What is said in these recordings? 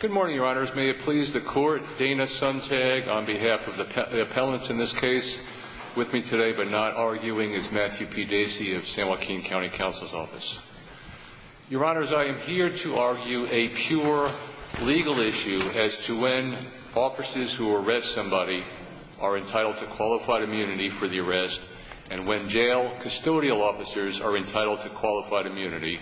Good morning, Your Honors. May it please the Court, Dana Sontag on behalf of the appellants in this case with me today but not arguing is Matthew P. Dacey of San Joaquin County Counsel's Office. Your Honors, I am here to argue a pure legal issue as to when officers who arrest somebody are entitled to qualified immunity for the arrest and when jail custodial officers are entitled to qualified immunity.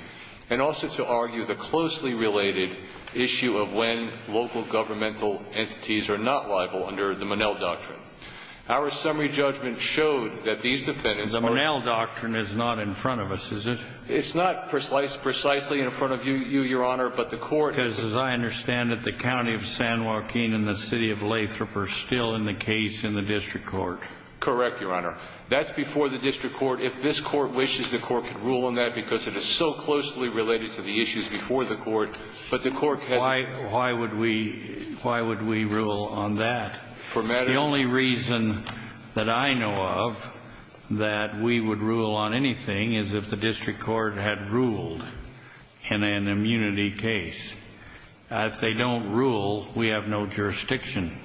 I want to argue a closely related issue of when local governmental entities are not liable under the Monell Doctrine. Our summary judgment showed that these defendants are... The Monell Doctrine is not in front of us, is it? It's not precisely in front of you, Your Honor, but the court... Because as I understand it, the County of San Joaquin and the City of Lathrop are still in the case in the District Court. Correct, Your Honor. That's before the District Court. If this Court wishes, the Court could rule on that because it is so important. Why would we rule on that? The only reason that I know of that we would rule on anything is if the District Court had ruled in an immunity case. If they don't rule, we have no jurisdiction.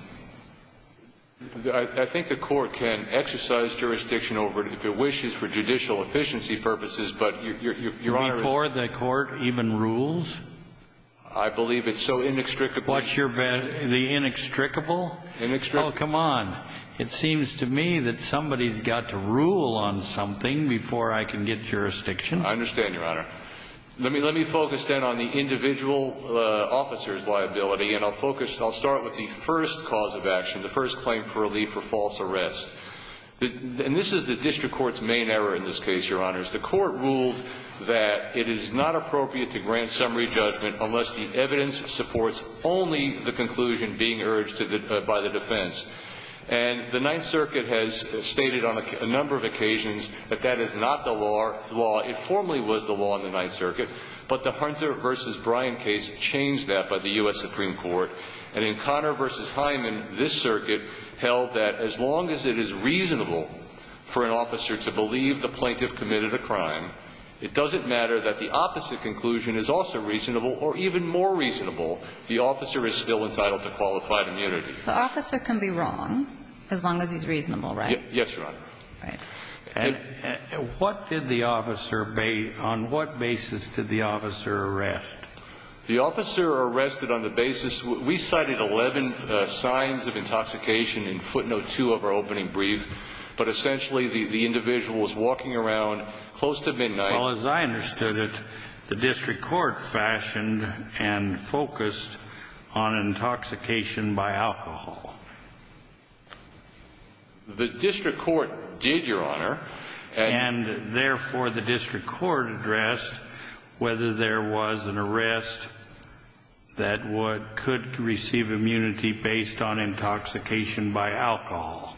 I think the Court can exercise jurisdiction over it if it wishes for judicial efficiency purposes, but Your Honor... Before the Court even rules? I believe it's so inextricable. What's your bet? The inextricable? Inextricable. Oh, come on. It seems to me that somebody's got to rule on something before I can get jurisdiction. I understand, Your Honor. Let me focus, then, on the individual officer's liability, and I'll focus... I'll start with the first cause of action, the first claim for relief for false arrest. And this is the District Court's main error in this case, Your Honor. The Court ruled that it is not appropriate to grant summary judgment unless the evidence supports only the conclusion being urged by the defense. And the Ninth Circuit has stated on a number of occasions that that is not the law. It formerly was the law in the Ninth Circuit, but the Hunter v. Bryan case changed that by the U.S. Supreme Court. And in Conner v. Hyman, this circuit held that as long as it is reasonable or even more reasonable, the officer is still entitled to qualified immunity. The officer can be wrong as long as he's reasonable, right? Yes, Your Honor. Right. And what did the officer... On what basis did the officer arrest? The officer arrested on the basis... We cited 11 signs of intoxication in footnote 2 of our opening brief, but essentially the individual was walking around close to midnight. Well, as I understood it, the District Court fashioned and focused on intoxication by alcohol. The District Court did, Your Honor. And therefore, the District Court addressed whether there was an arrest that could receive immunity based on intoxication by alcohol.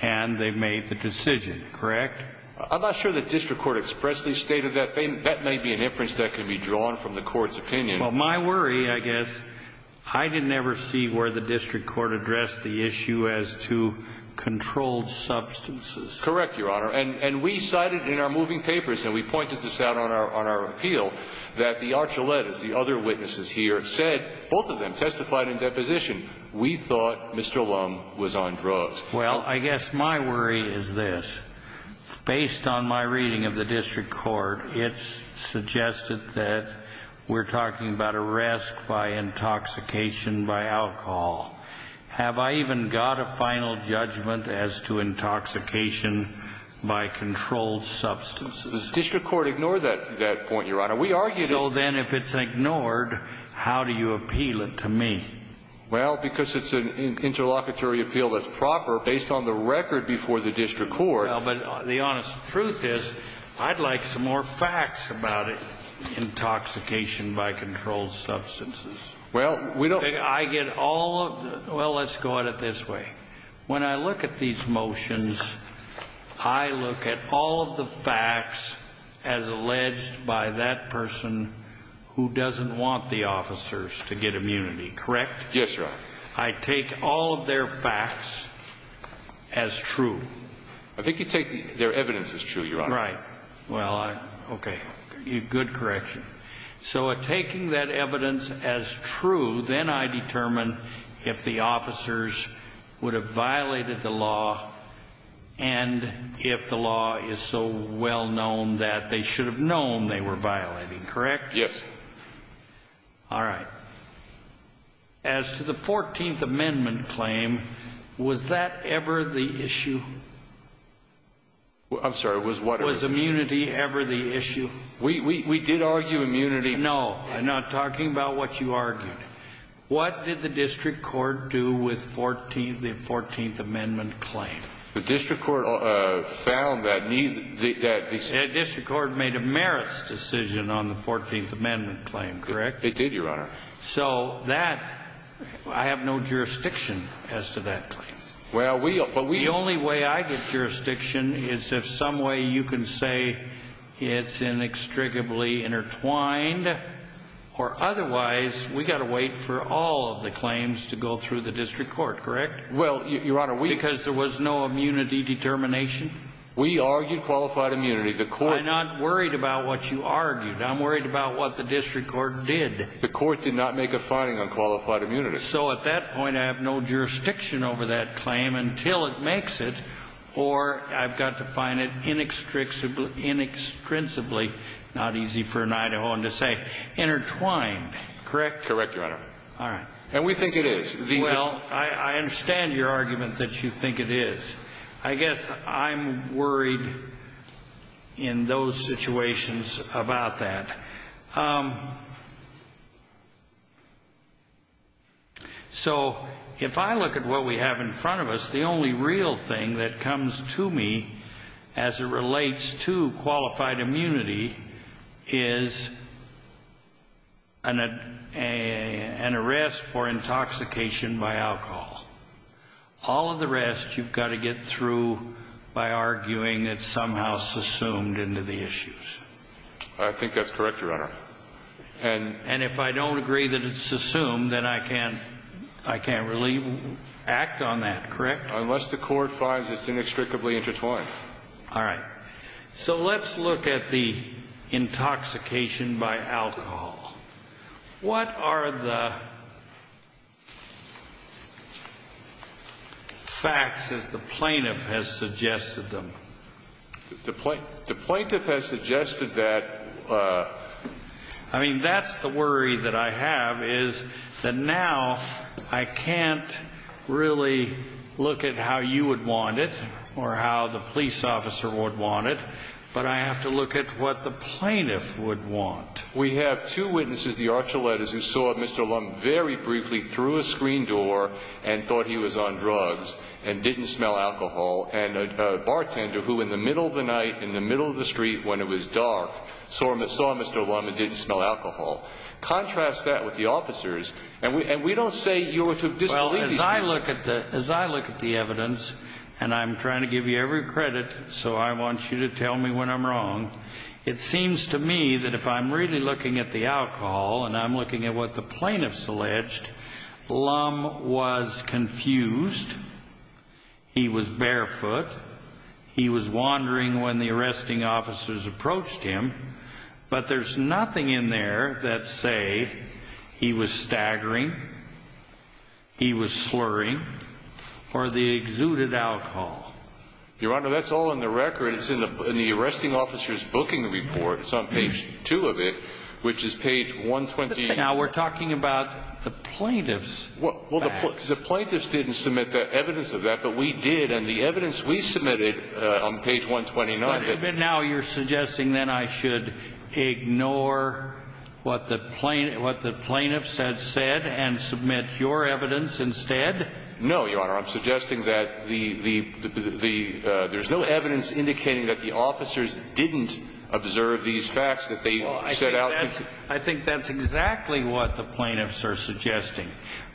And they made the decision, correct? I'm not sure the District Court expressly stated that. That may be an inference that can be drawn from the Court's opinion. Well, my worry, I guess, I didn't ever see where the District Court addressed the issue as to controlled substances. Correct, Your Honor. And we cited in our moving papers, and we pointed this out on our appeal, that the Archuletas, the other witnesses here, said, both of them testified in deposition, we thought Mr. Lum was on drugs. Well, I guess my worry is this. Based on my reading of the District Court, it's suggested that we're talking about arrest by intoxication by alcohol. Have I even got a final judgment as to intoxication by controlled substances? The District Court ignored that point, Your Honor. We argued... So then, if it's ignored, how do you appeal it to me? Well, because it's an interlocutory appeal that's proper based on the record before the District Court. Well, but the honest truth is, I'd like some more facts about it, intoxication by controlled substances. Well, we don't... I get all... Well, let's go at it this way. When I look at these motions, I look at all of the facts as alleged by that person who doesn't want the officers to get immunity, correct? Yes, Your Honor. I take all of their facts as true. I think you take their evidence as true, Your Honor. Right. Well, okay. Good correction. So taking that evidence as true, then I determine if the officers would have violated the law and if the law is so well known that they should have known they were violating, correct? Yes. All right. As to the 14th Amendment claim, was that ever the issue? I'm sorry, was what? Was immunity ever the issue? We did argue immunity... No, I'm not talking about what you argued. What did the District Court do with the 14th Amendment claim? The District Court found that... The District Court made a merits decision on the 14th Amendment claim, correct? It did, Your Honor. So that... I have no jurisdiction as to that claim. Well, we... The only way I get jurisdiction is if some way you can say it's inextricably intertwined or otherwise, we got to wait for all of the claims to go through the District Court, correct? Well, Your Honor, we... Because there was no immunity determination? We argued qualified immunity. The Court... I'm not worried about what you argued. I'm worried about what the District Court did. The Court did not make a finding on qualified immunity. So at that point, I have no jurisdiction over that claim until it makes it or I've got to find it inextricably, inextricably, not easy for an Idahoan to say, intertwined, correct? Correct, Your Honor. All right. And we think it is. Well, I in those situations about that. So if I look at what we have in front of us, the only real thing that comes to me as it relates to qualified immunity is an arrest for intoxication by alcohol. All of the rest, you've got to get through by issues. I think that's correct, Your Honor. And... And if I don't agree that it's assumed, then I can't... I can't really act on that, correct? Unless the court finds it's inextricably intertwined. All right. So let's look at the intoxication by The plaintiff has suggested that... I mean, that's the worry that I have is that now I can't really look at how you would want it or how the police officer would want it, but I have to look at what the plaintiff would want. We have two witnesses, the Archuletas, who saw Mr. Lum very briefly through a screen door and thought he was on drugs and didn't smell alcohol. And a bartender who, in the middle of the night, in the middle of the street, when it was dark, saw Mr. Lum and didn't smell alcohol. Contrast that with the officers, and we don't say you're to disbelieve... Well, as I look at the... As I look at the evidence, and I'm trying to give you every credit, so I want you to tell me when I'm wrong, it seems to me that if I'm really looking at the alcohol and I'm looking at what the officers approached him, but there's nothing in there that say he was staggering, he was slurring, or they exuded alcohol. Your Honor, that's all in the record. It's in the arresting officers booking report. It's on page two of it, which is page 120. Now, we're talking about the plaintiff's facts. Well, the plaintiffs didn't submit the evidence of that, but we did, and the evidence we have on page 129. But now you're suggesting that I should ignore what the plaintiffs had said and submit your evidence instead? No, Your Honor. I'm suggesting that there's no evidence indicating that the officers didn't observe these facts that they set out. I think that's exactly what the plaintiffs are suggesting,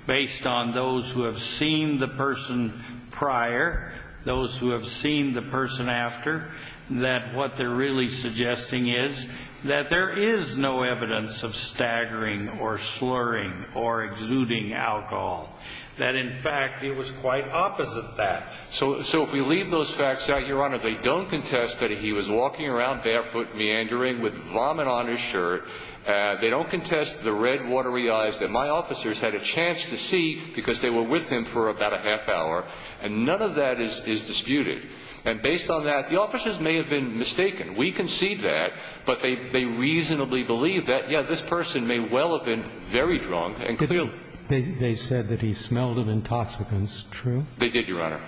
based on those who have seen the person prior, those who have seen the person after, that what they're really suggesting is that there is no evidence of staggering or slurring or exuding alcohol. That, in fact, it was quite opposite that. So if we leave those facts out, Your Honor, they don't contest that he was walking around barefoot, meandering with vomit on his shirt. They don't contest the red watery eyes that my officers had a chance to see because they were with him for about a half hour, and none of that is disputed. And based on that, the officers may have been mistaken. We concede that, but they reasonably believe that, yes, this person may well have been very drunk and clearly ---- They said that he smelled of intoxicants, true? They did, Your Honor.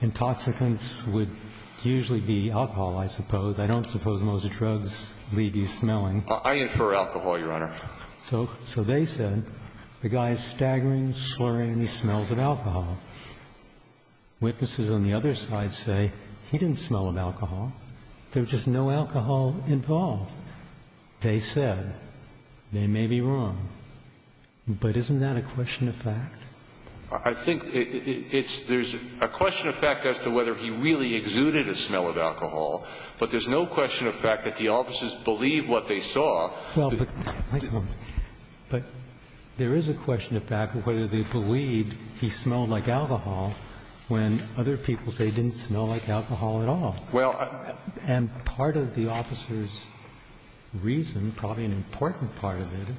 Intoxicants would usually be alcohol, I suppose. I don't suppose most drugs leave you smelling. I infer alcohol, Your Honor. So they said the guy is staggering, slurring, smells of alcohol. Witnesses on the other side say he didn't smell of alcohol. There's just no alcohol involved. They said they may be wrong. But isn't that a question of fact? I think it's – there's a question of fact as to whether he really exuded a smell of alcohol, but there's no question of fact that the officers believe what they saw. Well, but there is a question of fact of whether they believe he smelled like alcohol when other people say he didn't smell like alcohol at all. Well, I – And part of the officer's reason, probably an important part of it,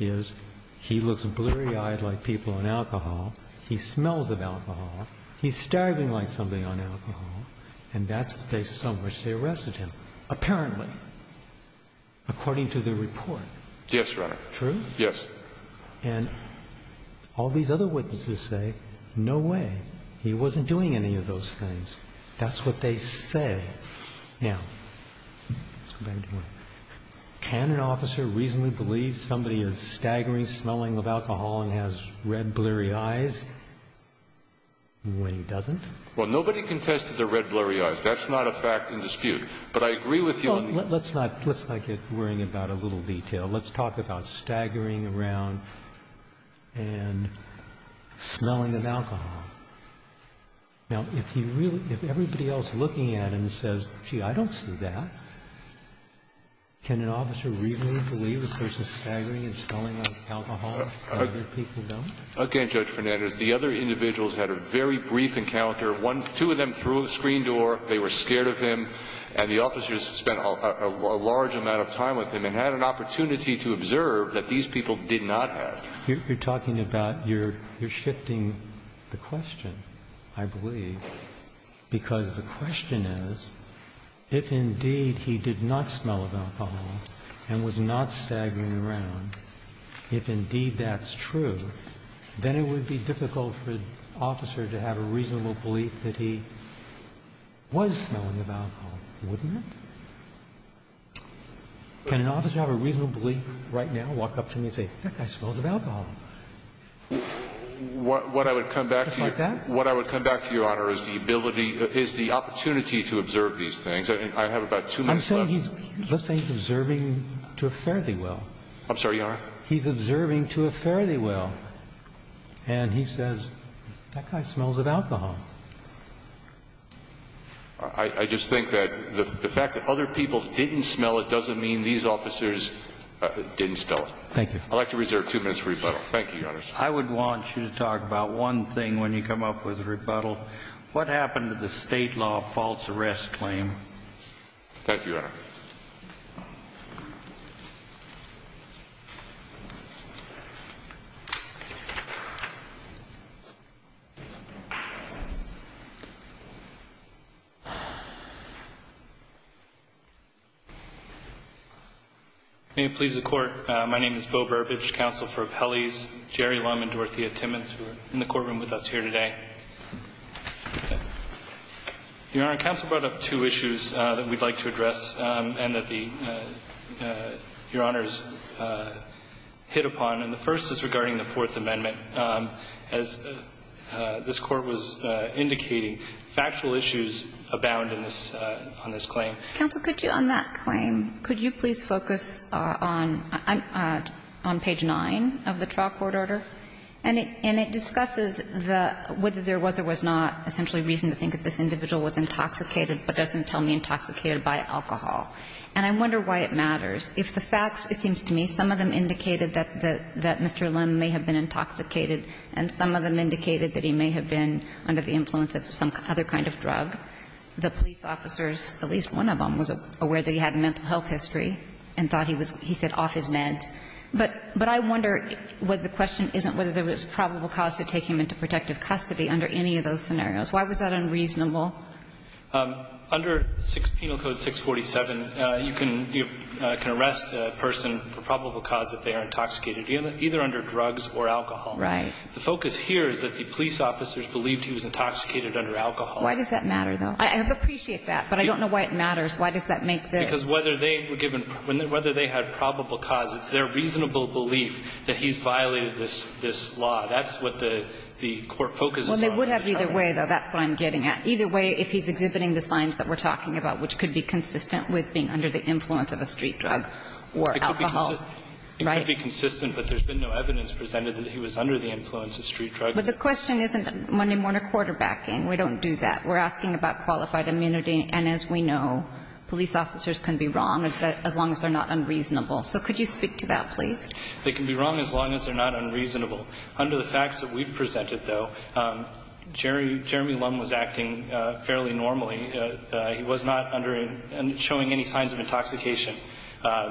is he looks blurry-eyed like people on alcohol, he smells of alcohol, he's staggering like somebody on alcohol, and that's the basis on which they arrested him, apparently, according to the report. Yes, Your Honor. True? Yes. And all these other witnesses say, no way, he wasn't doing any of those things. That's what they say. Now, can an officer reasonably believe somebody is staggering, smelling of alcohol and has red, blurry eyes when he doesn't? Well, nobody contested the red, blurry eyes. That's not a fact in dispute. But I agree with you on the – Well, let's not – let's not get worried about a little detail. Let's talk about staggering around and smelling of alcohol. Now, if you really – if everybody else looking at him says, gee, I don't see that, can an officer reasonably believe the person is staggering and smelling of alcohol and other people don't? Again, Judge Fernandez, the other individuals had a very brief encounter. One – two of them threw a screen door, they were scared of him, and the officers spent a large amount of time with him and had an opportunity to observe that these people did not have. You're talking about – you're shifting the question, I believe, because the question is, if indeed he did not smell of alcohol and was not staggering around, if indeed that's true, then it would be difficult for an officer to have a reasonable belief that he was smelling of alcohol, wouldn't it? Can an officer have a reasonable belief right now, walk up to me and say, that guy smells of alcohol? What I would come back to you, Your Honor, is the ability – is the opportunity to observe these things. I have about two minutes left. I'm saying he's – let's say he's observing to a fairly well. I'm sorry, Your Honor? He's observing to a fairly well. And he says, that guy smells of alcohol. I just think that the fact that other people didn't smell it doesn't mean these officers didn't smell it. Thank you. I'd like to reserve two minutes for rebuttal. Thank you, Your Honor. I would want you to talk about one thing when you come up with a rebuttal. Thank you, Your Honor. May it please the Court, my name is Beau Burbidge, counsel for Appellees Jerry Lund and Dorothea Timmons, who are in the courtroom with us here today. Your Honor, counsel brought up two issues that we'd like to address and that the – Your Honors hit upon. And the first is regarding the Fourth Amendment. As this Court was indicating, factual issues abound in this – on this claim. Counsel, could you, on that claim, could you please focus on – on page 9 of the And I wonder why it matters. If the facts, it seems to me, some of them indicated that Mr. Lim may have been intoxicated, and some of them indicated that he may have been under the influence of some other kind of drug, the police officers, at least one of them was aware that he had a mental health history and thought he was – he said off his meds. But I wonder whether the question isn't whether there was probable cause to take him into protective custody under any of those scenarios. Why was that unreasonable? Under penal code 647, you can arrest a person for probable cause if they are intoxicated, either under drugs or alcohol. Right. The focus here is that the police officers believed he was intoxicated under alcohol. Why does that matter, though? I appreciate that, but I don't know why it matters. Why does that make the – Because whether they were given – whether they had probable cause, it's their the court focuses on. Well, they would have either way, though. That's what I'm getting at. Either way, if he's exhibiting the signs that we're talking about, which could be consistent with being under the influence of a street drug or alcohol, right? It could be consistent, but there's been no evidence presented that he was under the influence of street drugs. But the question isn't Monday-morning quarterbacking. We don't do that. We're asking about qualified immunity. And as we know, police officers can be wrong as long as they're not unreasonable. So could you speak to that, please? They can be wrong as long as they're not unreasonable. Under the facts that we've presented, though, Jeremy Lum was acting fairly normally. He was not under – showing any signs of intoxication,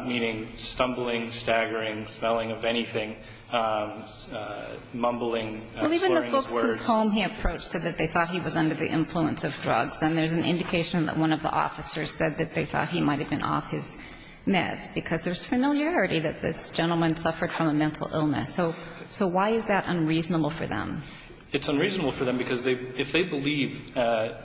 meaning stumbling, staggering, smelling of anything, mumbling, slurring his words. Well, even the folks whose home he approached said that they thought he was under the influence of drugs. And there's an indication that one of the officers said that they thought he might have been off his meds, because there's familiarity that this gentleman suffered from a mental illness. So why is that unreasonable for them? It's unreasonable for them because they – if they believe,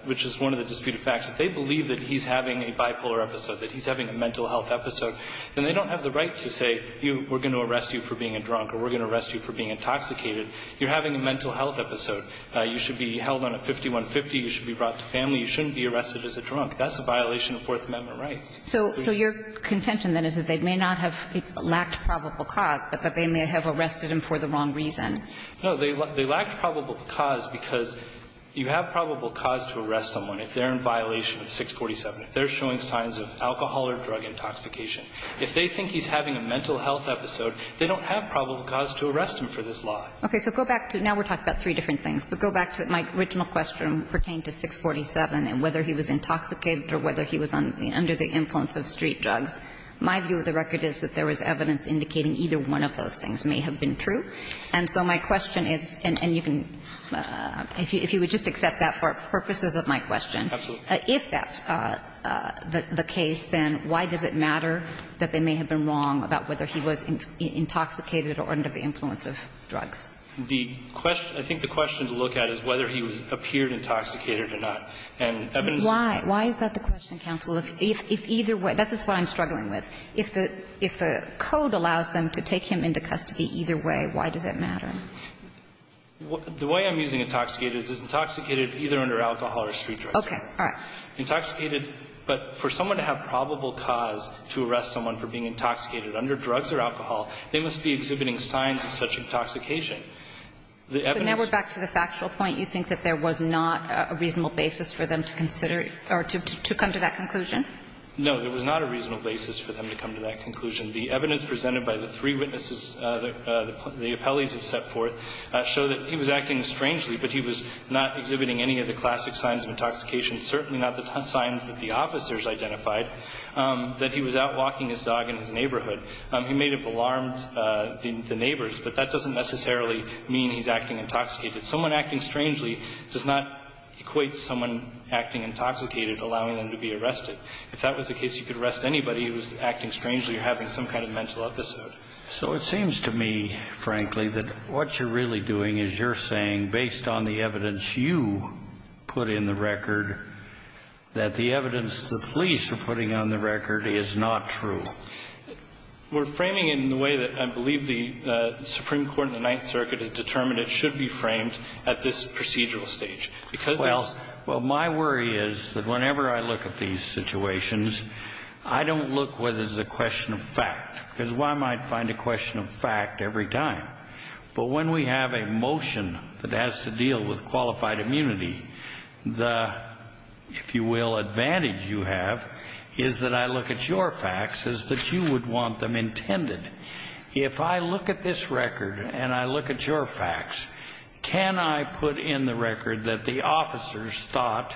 which is one of the disputed facts, if they believe that he's having a bipolar episode, that he's having a mental health episode, then they don't have the right to say, we're going to arrest you for being a drunk or we're going to arrest you for being intoxicated. You're having a mental health episode. You should be held on a 5150. You should be brought to family. You shouldn't be arrested as a drunk. That's a violation of Fourth Amendment rights. So your contention, then, is that they may not have lacked probable cause, but that they may have arrested him for the wrong reason. No. They lacked probable cause because you have probable cause to arrest someone if they're in violation of 647, if they're showing signs of alcohol or drug intoxication. If they think he's having a mental health episode, they don't have probable cause to arrest him for this law. Okay. So go back to – now we're talking about three different things. But go back to my original question pertaining to 647 and whether he was intoxicated or whether he was under the influence of street drugs. My view of the record is that there was evidence indicating either one of those things may have been true. And so my question is – and you can – if you would just accept that for purposes of my question. Absolutely. If that's the case, then why does it matter that they may have been wrong about whether he was intoxicated or under the influence of drugs? The question – I think the question to look at is whether he appeared intoxicated or not. And evidence of that – Why? Why is that the question, counsel? If either way – this is what I'm struggling with. If the – if the code allows them to take him into custody either way, why does it matter? The way I'm using intoxicated is intoxicated either under alcohol or street drugs. Okay. All right. Intoxicated – but for someone to have probable cause to arrest someone for being intoxicated under drugs or alcohol, they must be exhibiting signs of such intoxication. The evidence – So now we're back to the factual point. You think that there was not a reasonable basis for them to consider or to come to that conclusion? No, there was not a reasonable basis for them to come to that conclusion. The evidence presented by the three witnesses, the appellees have set forth, show that he was acting strangely, but he was not exhibiting any of the classic signs of intoxication, certainly not the signs that the officers identified, that he was out walking his dog in his neighborhood. He may have alarmed the neighbors, but that doesn't necessarily mean he's acting intoxicated. Someone acting strangely does not equate someone acting intoxicated, allowing them to be arrested. If that was the case, you could arrest anybody who was acting strangely or having some kind of mental episode. So it seems to me, frankly, that what you're really doing is you're saying, based on the evidence you put in the record, that the evidence the police are putting on the record is not true. We're framing it in the way that I believe the Supreme Court in the Ninth Circuit has determined it should be framed at this procedural stage. Because it's... Well, my worry is that whenever I look at these situations, I don't look whether it's a question of fact, because one might find a question of fact every time. But when we have a motion that has to deal with qualified immunity, the, if you will, advantage you have is that I look at your facts as that you would want them intended. If I look at this record and I look at your facts, can I put in the record that the officers thought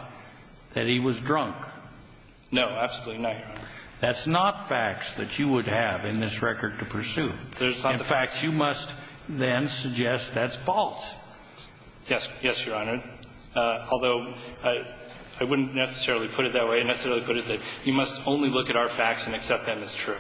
that he was drunk? No, absolutely not, Your Honor. That's not facts that you would have in this record to pursue. In fact, you must then suggest that's false. Yes, Your Honor, although I wouldn't necessarily put it that way. I necessarily put it that you must only look at our facts and accept them as true.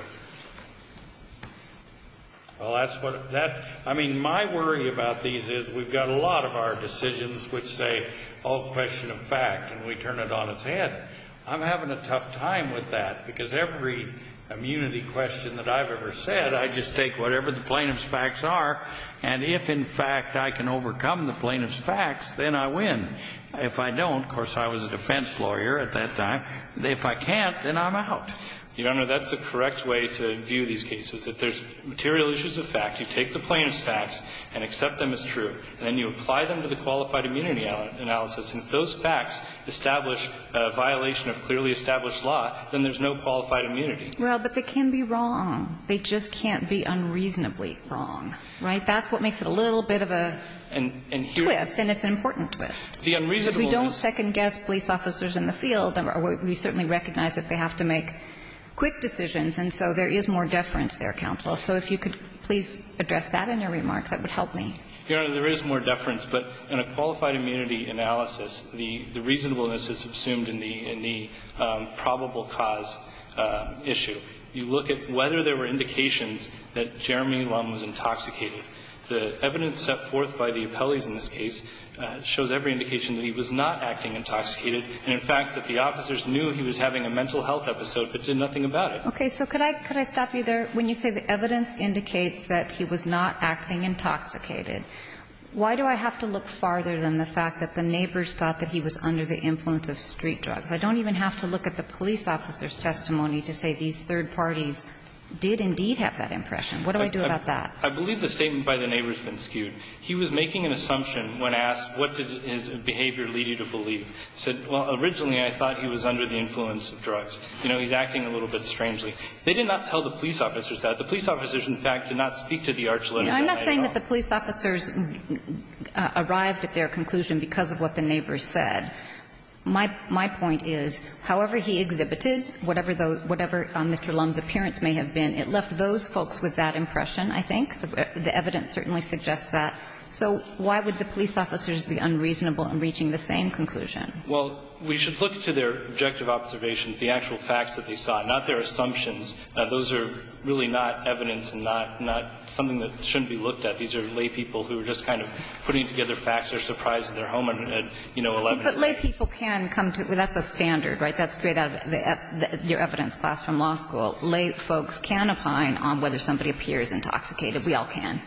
Well, that's what, that, I mean, my worry about these is we've got a lot of our decisions which say all question of fact, and we turn it on its head. I'm having a tough time with that because every immunity question that I've ever said, I just take whatever the plaintiff's facts are, and if in fact I can overcome the plaintiff's facts, then I win. If I don't, of course, I was a defense lawyer at that time, if I can't, then I'm out. Your Honor, that's the correct way to view these cases. If there's material issues of fact, you take the plaintiff's facts and accept them as true, and then you apply them to the qualified immunity analysis, and if those facts establish a violation of clearly established law, then there's no qualified immunity. Well, but they can be wrong. They just can't be unreasonably wrong, right? That's what makes it a little bit of a twist, and it's an important twist. The unreasonable is we don't second-guess police officers in the field, and we certainly recognize that they have to make quick decisions, and so there is more deference there, counsel. So if you could please address that in your remarks, that would help me. Your Honor, there is more deference, but in a qualified immunity analysis, the reasonableness is subsumed in the probable cause issue. You look at whether there were indications that Jeremy Lum was intoxicated. The evidence set forth by the appellees in this case shows every indication that he was not acting intoxicated, and, in fact, that the officers knew he was having a mental health episode, but did nothing about it. Okay. So could I stop you there? When you say the evidence indicates that he was not acting intoxicated, why do I have to look farther than the fact that the neighbors thought that he was under the influence of street drugs? I don't even have to look at the police officer's testimony to say these third parties did indeed have that impression. What do I do about that? I believe the statement by the neighbor has been skewed. He was making an assumption when asked what did his behavior lead you to believe. He said, well, originally I thought he was under the influence of drugs. You know, he's acting a little bit strangely. They did not tell the police officers that. The police officers, in fact, did not speak to the Arch Little guy at all. I'm not saying that the police officers arrived at their conclusion because of what the neighbors said. My point is, however he exhibited, whatever Mr. Lum's appearance may have been, it left those folks with that impression, I think. The evidence certainly suggests that. So why would the police officers be unreasonable in reaching the same conclusion? Well, we should look to their objective observations, the actual facts that they saw, not their assumptions. Those are really not evidence and not something that shouldn't be looked at. These are laypeople who are just kind of putting together facts that are surprising their home at, you know, 11 a.m. But laypeople can come to you. That's a standard, right? That's straight out of your evidence class from law school. So lay folks can opine on whether somebody appears intoxicated. We all can.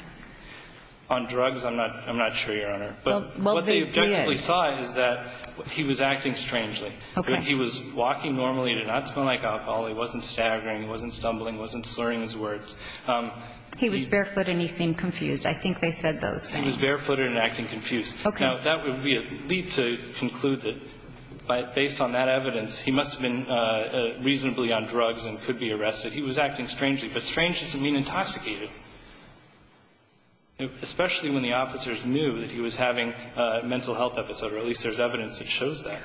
On drugs, I'm not sure, Your Honor. But what they objectively saw is that he was acting strangely. Okay. He was walking normally, did not smell like alcohol, he wasn't staggering, wasn't stumbling, wasn't slurring his words. He was barefoot and he seemed confused. I think they said those things. He was barefoot and acting confused. Okay. Now, that would be a leap to conclude that, based on that evidence, he must have been reasonably on drugs and could be arrested. He was acting strangely. But strange doesn't mean intoxicated, especially when the officers knew that he was having a mental health episode, or at least there's evidence that shows that.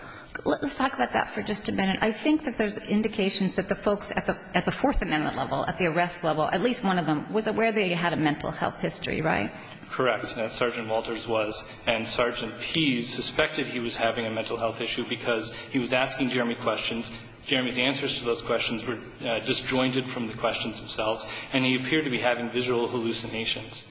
Let's talk about that for just a minute. I think that there's indications that the folks at the Fourth Amendment level, at the arrest level, at least one of them, was aware that he had a mental health history, right? Correct. And Sergeant Walters was. And Sergeant Pease suspected he was having a mental health issue because he was asking Jeremy questions. Jeremy's answers to those questions were disjointed from the questions themselves. And he appeared to be having visual hallucinations.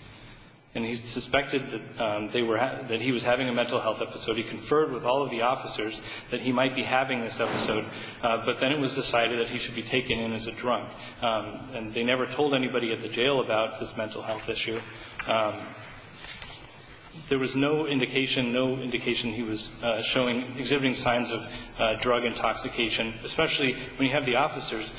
And he suspected that they were he was having a mental health episode. He conferred with all of the officers that he might be having this episode. But then it was decided that he should be taken in as a drunk. And they never told anybody at the jail about this mental health issue. There was no indication, no indication he was showing, exhibiting signs of drug intoxication, especially when you have the officers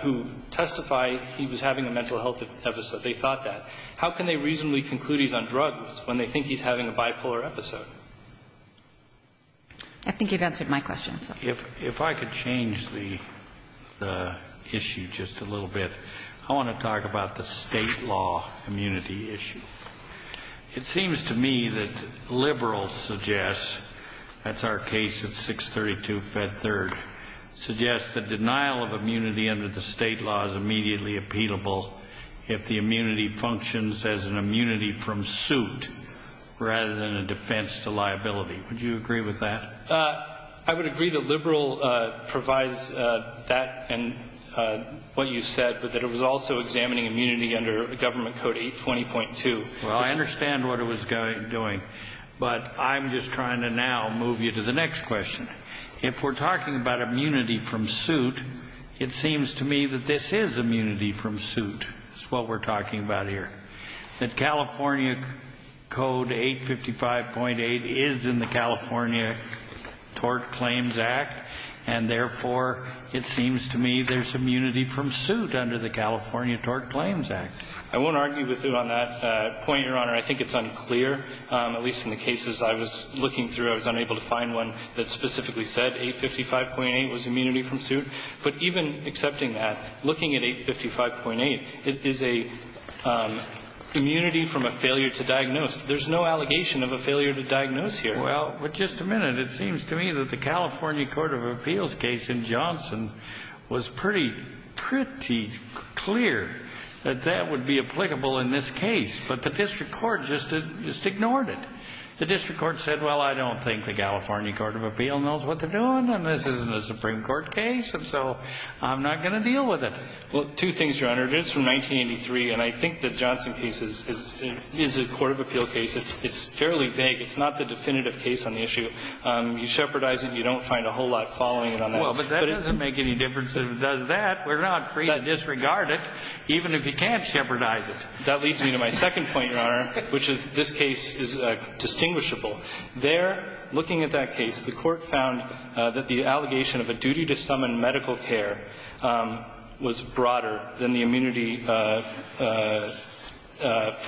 who testify he was having a mental health episode. They thought that. How can they reasonably conclude he's on drugs when they think he's having a bipolar episode? I think you've answered my question, sir. If I could change the issue just a little bit, I want to talk about the State law immunity issue. It seems to me that liberals suggest, that's our case of 632 Fed 3rd, suggest that denial of immunity under the state law is immediately appealable if the immunity functions as an immunity from suit rather than a defense to liability. Would you agree with that? I would agree that liberal provides that and what you said, but that it was also examining immunity under government code 820.2. Well, I understand what it was doing, but I'm just trying to now move you to the next question. If we're talking about immunity from suit, it seems to me that this is immunity from suit. It's what we're talking about here. That California code 855.8 is in the California Tort Claims Act, and therefore, it seems to me there's immunity from suit under the California Tort Claims Act. I won't argue with you on that point, Your Honor. I think it's unclear, at least in the cases I was looking through. I was unable to find one that specifically said 855.8 was immunity from suit. But even accepting that, looking at 855.8, it is a immunity from a failure to diagnose. There's no allegation of a failure to diagnose here. Well, but just a minute. It seems to me that the California Court of Appeals case in Johnson was pretty clear that that would be applicable in this case. But the district court just ignored it. The district court said, well, I don't think the California Court of Appeal knows what they're doing, and this isn't a Supreme Court case, and so I'm not going to deal with it. Well, two things, Your Honor. It is from 1983, and I think the Johnson case is a court of appeal case. It's fairly vague. It's not the definitive case on the issue. You shepherdize it, and you don't find a whole lot following it on that. Well, but that doesn't make any difference. If it does that, we're not free to disregard it, even if you can't shepherdize it. That leads me to my second point, Your Honor, which is this case is distinguishable. There, looking at that case, the Court found that the allegation of a duty to summon medical care was broader than the immunity for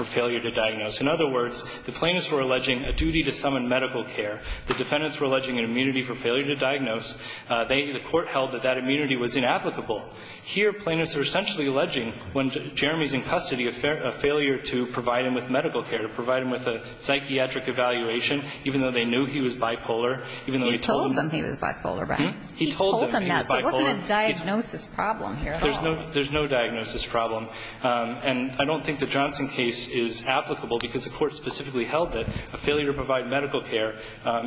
failure to diagnose. In other words, the plaintiffs were alleging a duty to summon medical care. The defendants were alleging an immunity for failure to diagnose. They, the Court, held that that immunity was inapplicable. Here, plaintiffs are essentially alleging, when Jeremy's in custody, a failure to provide him with medical care, to provide him with a psychiatric evaluation, even though they knew he was bipolar, even though he told them he was bipolar. He told them he was bipolar. It wasn't a diagnosis problem here at all. There's no diagnosis problem. And I don't think the Johnson case is applicable because the Court specifically held that a failure to provide medical care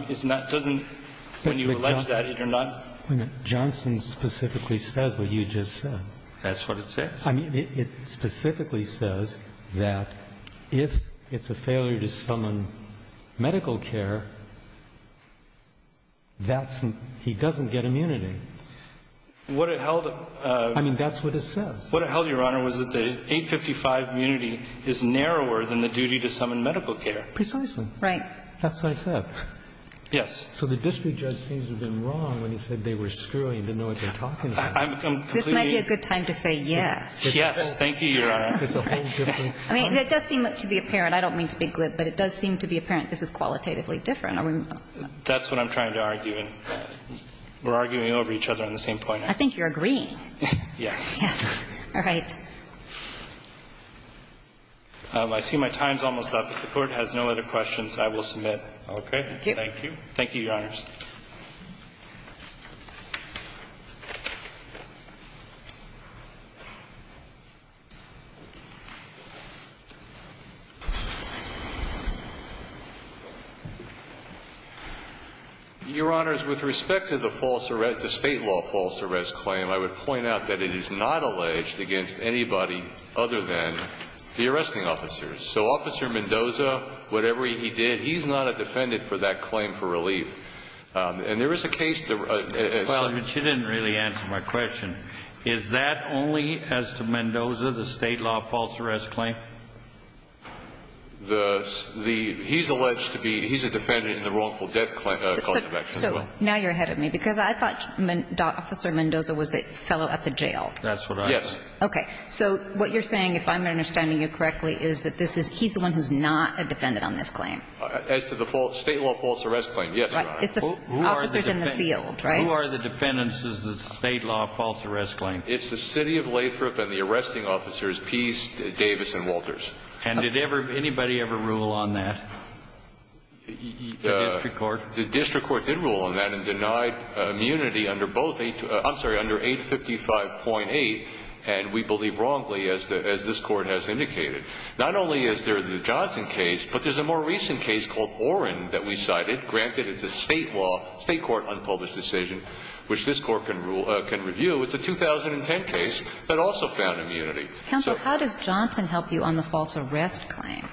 is not, doesn't, when you allege that, you're not. Roberts. Johnson specifically says what you just said. That's what it says. I mean, it specifically says that if it's a failure to summon medical care, that's an, he doesn't get immunity. What it held, I mean, that's what it says. What it held, Your Honor, was that the 855 immunity is narrower than the duty to summon medical care. Precisely. Right. That's what I said. Yes. So the district judge seems to have been wrong when he said they were screwing and didn't know what they were talking about. This might be a good time to say yes. Yes. Thank you, Your Honor. I mean, it does seem to be apparent. I don't mean to be glib, but it does seem to be apparent this is qualitatively different. That's what I'm trying to argue. We're arguing over each other on the same point. I think you're agreeing. Yes. All right. I see my time's almost up. If the Court has no other questions, I will submit. Okay. Thank you. Thank you, Your Honors. Your Honors, with respect to the false arrest, the State law false arrest claim, I would point out that it is not alleged against anybody other than the arresting officers. So Officer Mendoza, whatever he did, he's not a defendant for that claim for relief. And there is a case that... Well, but you didn't really answer my question. Is that only as to Mendoza, the State law false arrest claim? He's alleged to be... He's a defendant in the wrongful death cause of action as well. Now you're ahead of me. Because I thought Officer Mendoza was the fellow at the jail. That's what I... Yes. Okay. So what you're saying, if I'm understanding you correctly, is that he's the one who's not a defendant on this claim. As to the State law false arrest claim, yes, Your Honor. Officers in the field, right? Who are the defendants of the State law false arrest claim? It's the City of Lathrop and the arresting officers, Pease, Davis, and Walters. And did anybody ever rule on that? The district court? The district court did rule on that and denied immunity under both 855.8. And we believe wrongly, as this Court has indicated. Not only is there the Johnson case, but there's a more recent case called Orrin that we cited. Granted, it's a State law, State court unpublished decision, which this Court can review. It's a 2010 case that also found immunity. Counsel, how does Johnson help you on the false arrest claim?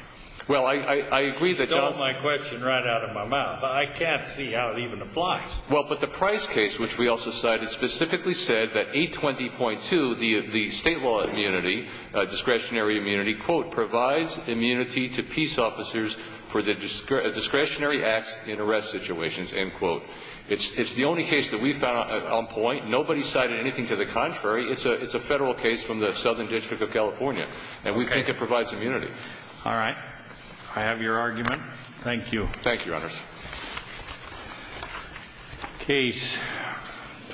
Well, I agree that Johnson... You stole my question right out of my mouth. I can't see how it even applies. Well, but the Price case, which we also cited, specifically said that 820.2, the State law immunity, discretionary immunity, quote, provides immunity to peace officers for the discretionary acts in arrest situations, end quote. It's the only case that we found on point. Nobody cited anything to the contrary. It's a Federal case from the Southern District of California. And we think it provides immunity. All right. I have your argument. Thank you. Thank you, Your Honors. Case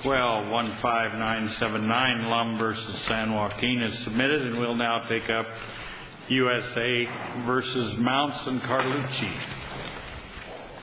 12-15979, Lum v. San Joaquin is submitted, and we'll now pick up USA v. Mounts and Carlucci.